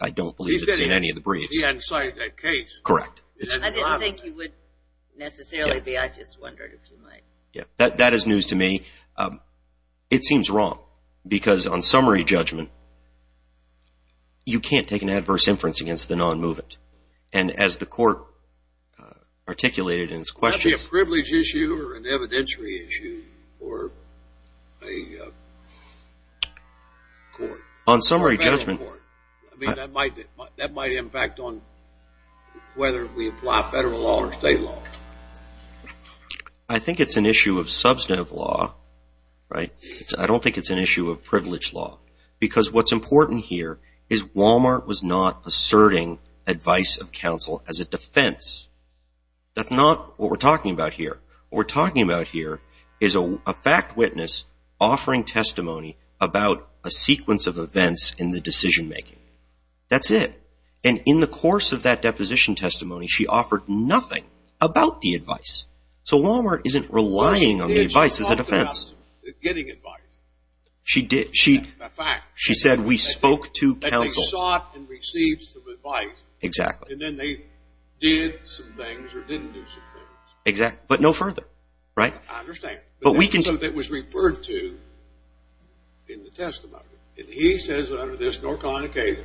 I don't believe it's in any of the briefs. He hadn't cited that case. Correct. I didn't think he would necessarily be. I just wondered if he might. That is news to me. It seems wrong because on summary judgment, you can't take an adverse inference against the non-movement. And as the court articulated in its questions. Would that be a privilege issue or an evidentiary issue for a court? On summary judgment. I mean, that might impact on whether we apply federal law or state law. I think it's an issue of substantive law. I don't think it's an issue of privilege law. Because what's important here is Walmart was not asserting advice of counsel as a defense. That's not what we're talking about here. What we're talking about here is a fact witness offering testimony about a sequence of events in the decision-making. That's it. And in the course of that deposition testimony, she offered nothing about the advice. So Walmart isn't relying on the advice as a defense. Getting advice. She did. A fact. She said we spoke to counsel. That they sought and received some advice. Exactly. And then they did some things or didn't do some things. Exactly. But no further. Right? I understand. But that was referred to in the testimony. And he says under this North Carolina case,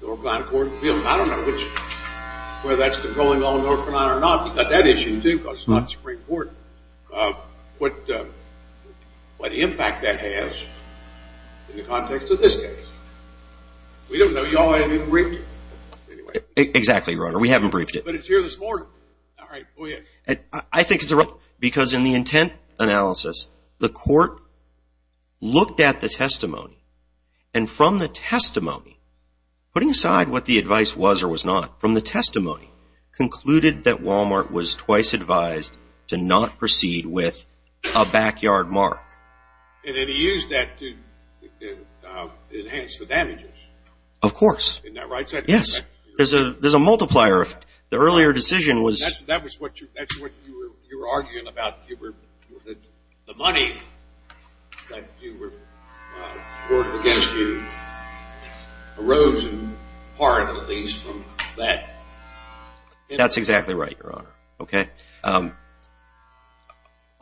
North Carolina Court of Appeals, I don't know whether that's controlling all of North Carolina or not, but that issue, too, because it's not Supreme Court, what impact that has in the context of this case. We don't know. You all haven't even briefed it. Exactly, Your Honor. We haven't briefed it. But it's here this morning. All right. Go ahead. Because in the intent analysis, the court looked at the testimony, and from the testimony, putting aside what the advice was or was not, from the testimony, concluded that Walmart was twice advised to not proceed with a backyard mark. And then he used that to enhance the damages. Of course. Isn't that right, sir? Yes. There's a multiplier effect. The earlier decision was... That's what you were arguing about. The money that you were awarded against you arose in part, at least, from that. That's exactly right, Your Honor. Okay. I'll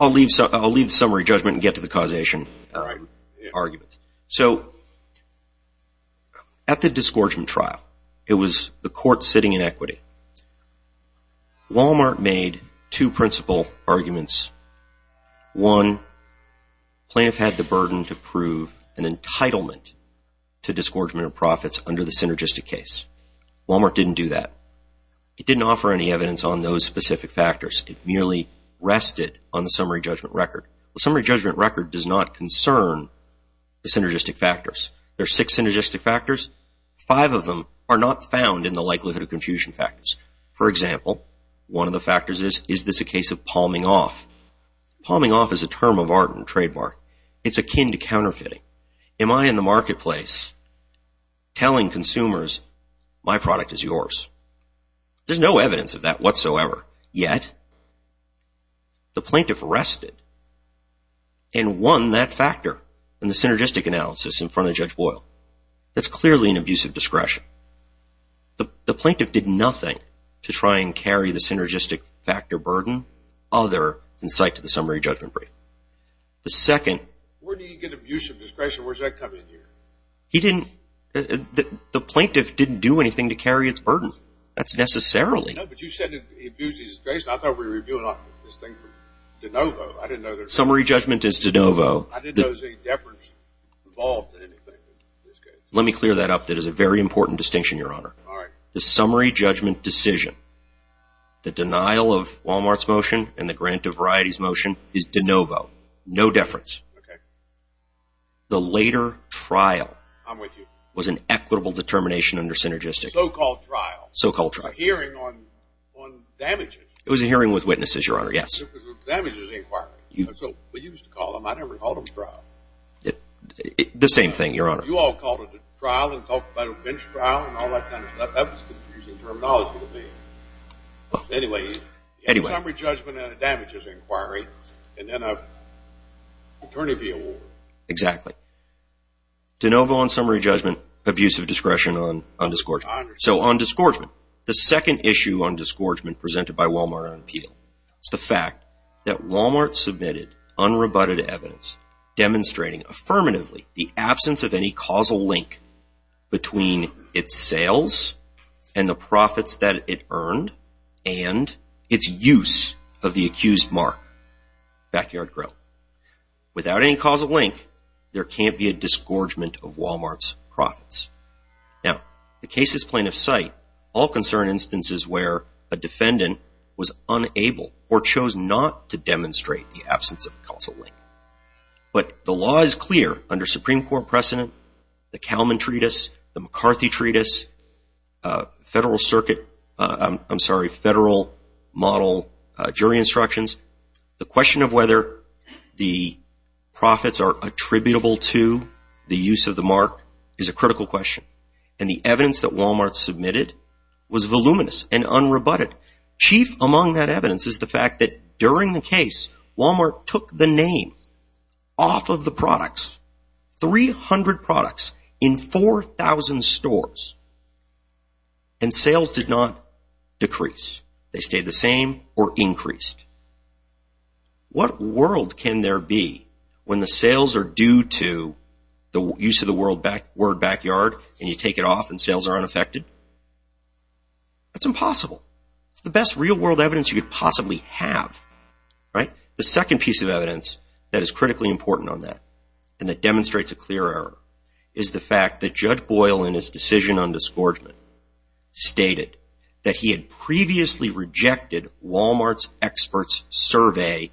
leave the summary judgment and get to the causation arguments. So at the disgorgement trial, it was the court sitting in equity. Walmart made two principal arguments. One, plaintiff had the burden to prove an entitlement to disgorgement of profits under the synergistic case. Walmart didn't do that. It didn't offer any evidence on those specific factors. It merely rested on the summary judgment record. The summary judgment record does not concern the synergistic factors. There are six synergistic factors. Five of them are not found in the likelihood of confusion factors. For example, one of the factors is, is this a case of palming off? Palming off is a term of art and trademark. It's akin to counterfeiting. Am I in the marketplace telling consumers, my product is yours? There's no evidence of that whatsoever. Yet, the plaintiff rested and won that factor in the synergistic analysis in front of Judge Boyle. That's clearly an abuse of discretion. The plaintiff did nothing to try and carry the synergistic factor burden other than cite to the summary judgment brief. The second. Where do you get abuse of discretion? Where does that come in here? He didn't. The plaintiff didn't do anything to carry its burden. That's necessarily. No, but you said abuse of discretion. I thought we were doing this thing for DeNovo. Summary judgment is DeNovo. I didn't know there was any deference involved in anything in this case. Let me clear that up. That is a very important distinction, Your Honor. All right. The summary judgment decision, the denial of Walmart's motion and the grant of Variety's motion is DeNovo. No deference. Okay. The later trial. I'm with you. Was an equitable determination under synergistic. So-called trial. So-called trial. A hearing on damages. It was a hearing with witnesses, Your Honor, yes. Damages inquiry. So we used to call them. I never called them trial. The same thing, Your Honor. You all called it trial and talked about a bench trial and all that kind of stuff. That was confusing terminology to me. Anyway. Anyway. Summary judgment and a damages inquiry and then an attorney of the award. Exactly. DeNovo on summary judgment, abuse of discretion on disgorgement. So on disgorgement, the second issue on disgorgement presented by Walmart on appeal is the fact that Walmart submitted unrebutted evidence demonstrating affirmatively the absence of any causal link between its sales and the profits that it earned and its use of the accused mark. Backyard grill. Without any causal link, there can't be a disgorgement of Walmart's profits. Now, the cases plaintiffs cite all concern instances where a defendant was unable or chose not to demonstrate the absence of a causal link. But the law is clear under Supreme Court precedent, the Kalman Treatise, the McCarthy Treatise, federal circuit, I'm sorry, federal model jury instructions. The question of whether the profits are attributable to the use of the mark is a critical question. And the evidence that Walmart submitted was voluminous and unrebutted. Chief among that evidence is the fact that during the case, Walmart took the name off of the products, 300 products in 4,000 stores, and sales did not decrease. They stayed the same or increased. What world can there be when the sales are due to the use of the word backyard and you take it off and sales are unaffected? It's impossible. It's the best real world evidence you could possibly have. The second piece of evidence that is critically important on that and that demonstrates a clear error is the fact that Judge Boyle in his decision on disgorgement stated that he had previously rejected Walmart's experts' survey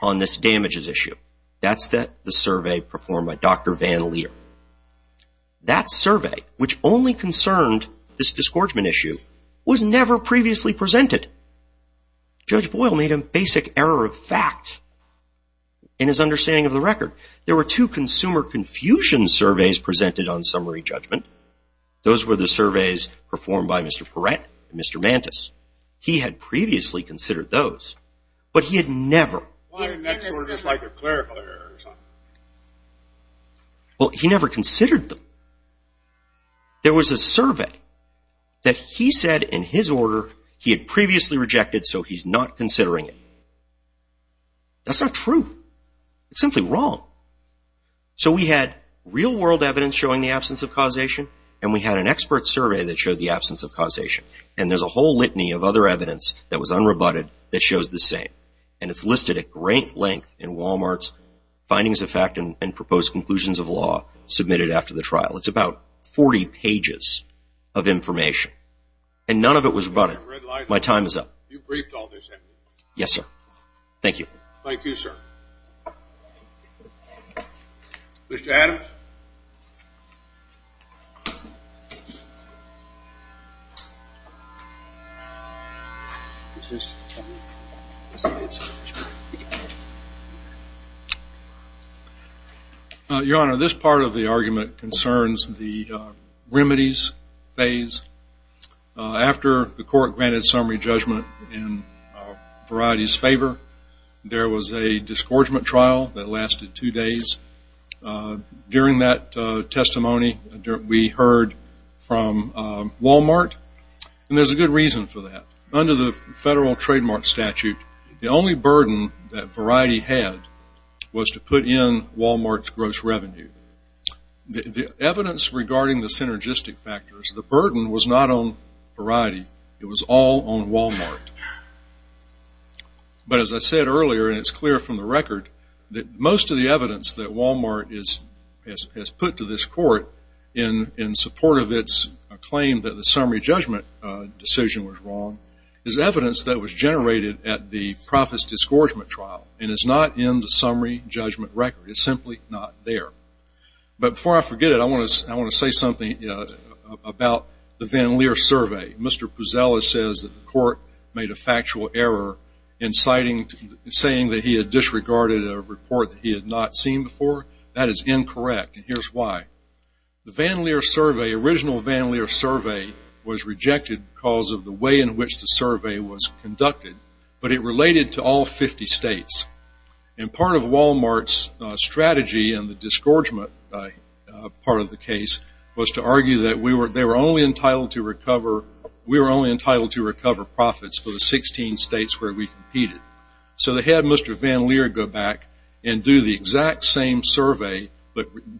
on this damages issue. That's the survey performed by Dr. Van Leer. That survey, which only concerned this disgorgement issue, was never previously presented. Judge Boyle made a basic error of fact in his understanding of the record. There were two consumer confusion surveys presented on summary judgment. Those were the surveys performed by Mr. Perrette and Mr. Mantis. He had previously considered those, but he had never. Why didn't Mantis do it? Well, he never considered them. There was a survey that he said in his order he had previously rejected so he's not considering it. That's not true. It's simply wrong. So we had real world evidence showing the absence of causation and we had an expert survey that showed the absence of causation. And there's a whole litany of other evidence that was unrebutted that shows the same. And it's listed at great length in Walmart's findings of fact and proposed conclusions of law submitted after the trial. It's about 40 pages of information. And none of it was rebutted. My time is up. Yes, sir. Thank you. Thank you, sir. Mr. Adams. Your Honor, this part of the argument concerns the remedies phase. After the court granted summary judgment in Variety's favor, there was a disgorgement trial that lasted two days. During that testimony, we heard from Walmart. And there's a good reason for that. Under the federal trademark statute, the only burden that Variety had was to put in Walmart's gross revenue. The evidence regarding the synergistic factors, the burden was not on Variety. It was all on Walmart. But as I said earlier, and it's clear from the record, that most of the evidence that Walmart has put to this court in support of its claim that the summary judgment decision was wrong is evidence that was generated at the profits disgorgement trial. And it's not in the summary judgment record. It's simply not there. But before I forget it, I want to say something about the Van Leer survey. Mr. Puzelis says that the court made a factual error in saying that he had disregarded a report that he had not seen before. That is incorrect, and here's why. The Van Leer survey, original Van Leer survey, was rejected because of the way in which the survey was conducted. But it related to all 50 states. And part of Walmart's strategy in the disgorgement part of the case was to argue that they were only entitled to recover profits for the 16 states where we competed. So they had Mr. Van Leer go back and do the exact same survey,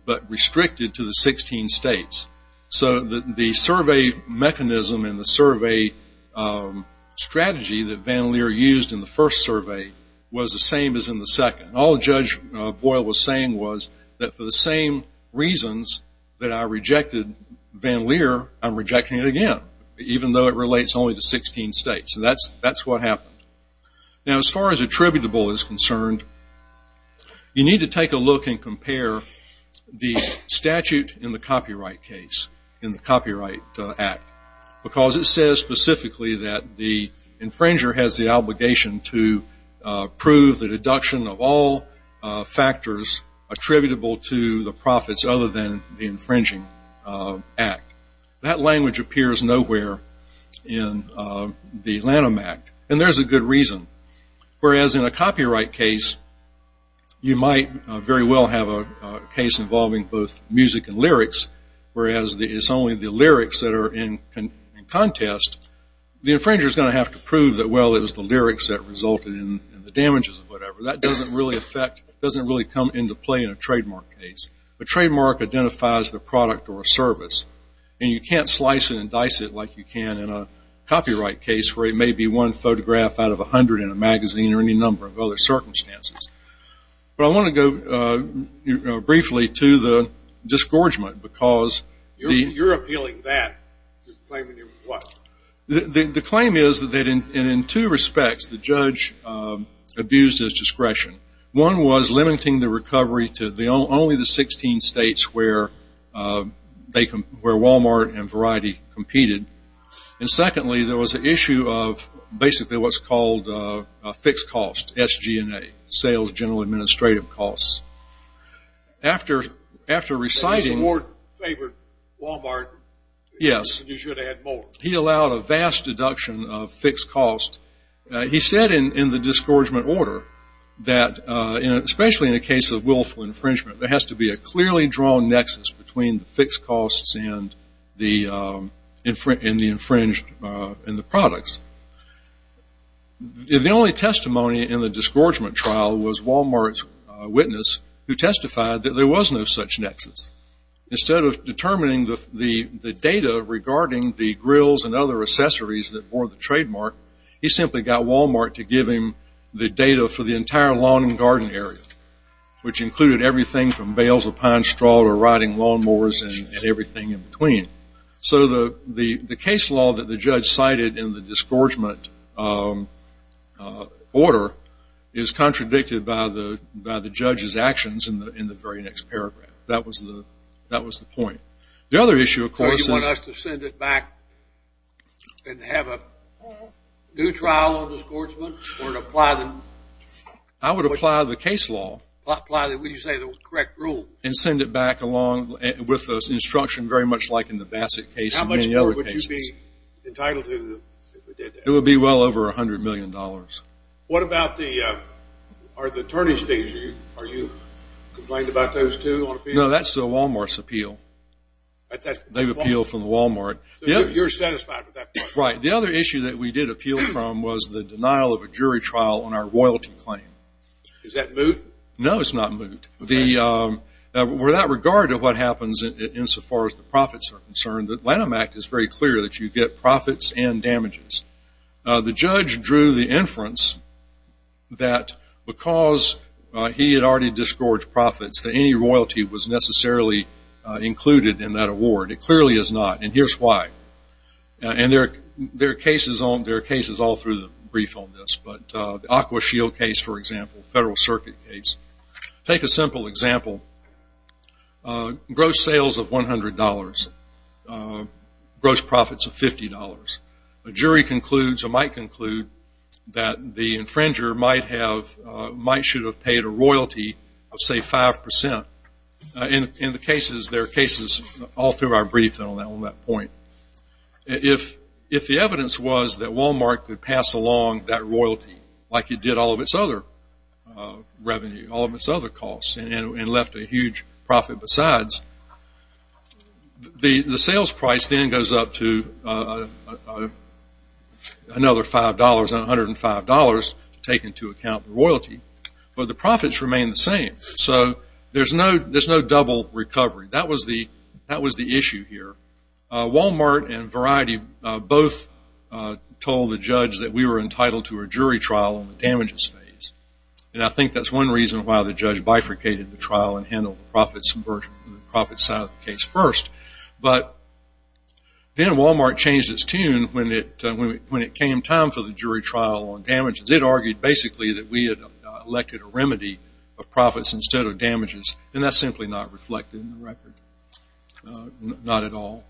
but restricted to the 16 states. So the survey mechanism and the survey strategy that Van Leer used in the first survey was the same as in the second. All Judge Boyle was saying was that for the same reasons that I rejected Van Leer, I'm rejecting it again, even though it relates only to 16 states. So that's what happened. Now, as far as attributable is concerned, you need to take a look and compare the statute in the copyright case, in the Copyright Act, because it says specifically that the infringer has the obligation to prove the deduction of all factors attributable to the profits other than the infringing act. That language appears nowhere in the Lanham Act, and there's a good reason. Whereas in a copyright case, you might very well have a case involving both music and lyrics, whereas it's only the lyrics that are in contest. The infringer is going to have to prove that, well, it was the lyrics that resulted in the damages or whatever. That doesn't really come into play in a trademark case. A trademark identifies the product or service, and you can't slice it and dice it like you can in a copyright case where it may be one photograph out of 100 in a magazine or any number of other circumstances. But I want to go briefly to the disgorgement because the- You're appealing that. You're claiming what? The claim is that in two respects, the judge abused his discretion. One was limiting the recovery to only the 16 states where Walmart and Variety competed. And secondly, there was an issue of basically what's called a fixed cost, SG&A, Sales General Administrative Costs. After reciting- The ward favored Walmart. Yes. You should add more. He allowed a vast deduction of fixed cost. He said in the disgorgement order that, especially in the case of willful infringement, there has to be a clearly drawn nexus between the fixed costs and the infringed- and the products. The only testimony in the disgorgement trial was Walmart's witness who testified that there was no such nexus. Instead of determining the data regarding the grills and other accessories that bore the trademark, he simply got Walmart to give him the data for the entire lawn and garden area, which included everything from bales of pine straw to rotting lawnmowers and everything in between. So the case law that the judge cited in the disgorgement order is contradicted by the judge's actions in the very next paragraph. That was the point. The other issue, of course- So you want us to send it back and have a new trial on disgorgement or apply the- Apply the, what did you say, the correct rule? And send it back along with the instruction very much like in the Bassett case and many other cases. How much more would you be entitled to if we did that? It would be well over $100 million. What about the attorney's fees? Are you complaining about those too on appeal? No, that's Walmart's appeal. They've appealed from Walmart. So you're satisfied with that point? Right. The other issue that we did appeal from was the denial of a jury trial on our royalty claim. Is that moot? No, it's not moot. Without regard to what happens insofar as the profits are concerned, the Lanham Act is very clear that you get profits and damages. The judge drew the inference that because he had already disgorged profits, that any royalty was necessarily included in that award. It clearly is not, and here's why. And there are cases all through the brief on this. But the Aqua Shield case, for example, Federal Circuit case. Take a simple example. Gross sales of $100. Gross profits of $50. A jury concludes or might conclude that the infringer might have, might should have paid a royalty of, say, 5%. In the cases, there are cases all through our brief on that point. If the evidence was that Walmart could pass along that royalty, like it did all of its other revenue, all of its other costs, and left a huge profit besides, the sales price then goes up to another $5, $105 to take into account the royalty. But the profits remain the same. So there's no double recovery. That was the issue here. Walmart and Variety both told the judge that we were entitled to a jury trial on the damages phase, and I think that's one reason why the judge bifurcated the trial and handled the profits side of the case first. But then Walmart changed its tune when it came time for the jury trial on damages. It argued basically that we had elected a remedy of profits instead of damages, and that's simply not reflected in the record, not at all.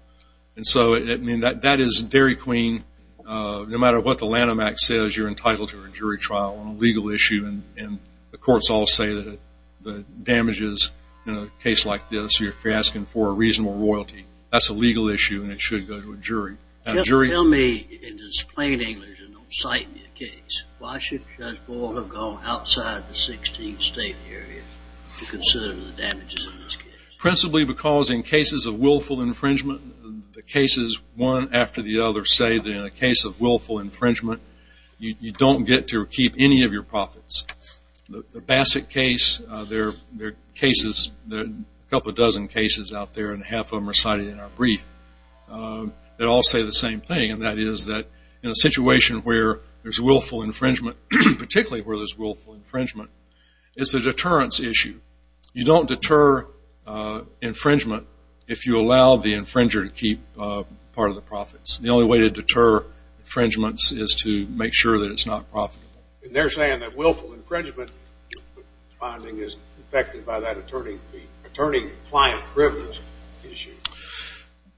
And so that is very clean. No matter what the Lanham Act says, you're entitled to a jury trial on a legal issue, and the courts all say that the damages in a case like this, you're asking for a reasonable royalty. That's a legal issue, and it should go to a jury. Just tell me in plain English and don't cite me a case, why should Judge Boyle have gone outside the 16 state area to consider the damages in this case? Principally because in cases of willful infringement, the cases one after the other say that in a case of willful infringement, you don't get to keep any of your profits. The Bassett case, there are a couple dozen cases out there, and half of them are cited in our brief. They all say the same thing, and that is that in a situation where there's willful infringement, particularly where there's willful infringement, it's a deterrence issue. You don't deter infringement if you allow the infringer to keep part of the profits. The only way to deter infringements is to make sure that it's not profitable. They're saying that willful infringement is affected by that attorney-client privilege issue.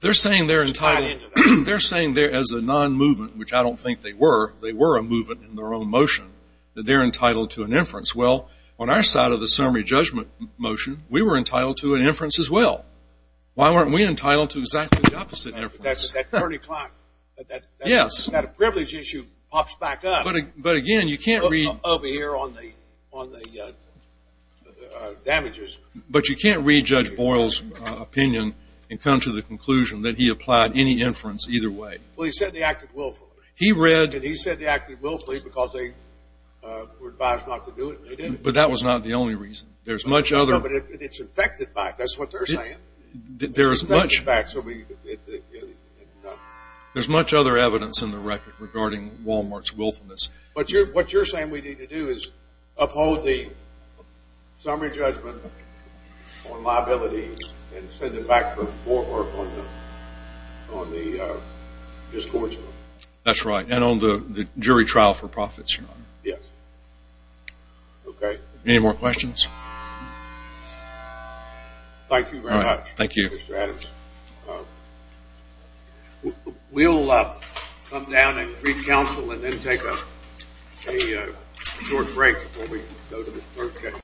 They're saying they're entitled. They're saying as a non-movement, which I don't think they were, they were a movement in their own motion, that they're entitled to an inference. Well, on our side of the summary judgment motion, we were entitled to an inference as well. Why weren't we entitled to exactly the opposite inference? That attorney-client. Yes. That privilege issue pops back up. But again, you can't read. Over here on the damages. But you can't read Judge Boyle's opinion and come to the conclusion that he applied any inference either way. Well, he said they acted willfully. He read. And he said they acted willfully because they were advised not to do it, and they didn't. But that was not the only reason. There's much other. No, but it's affected by it. That's what they're saying. There's much other evidence in the record regarding Walmart's willfulness. What you're saying we need to do is uphold the summary judgment on liabilities and send it back to Fort Worth on the discourse. That's right, and on the jury trial for profits, Your Honor. Yes. Okay. Any more questions? Thank you very much, Mr. Adams. We'll come down and brief counsel and then take a short break before we go to the first case.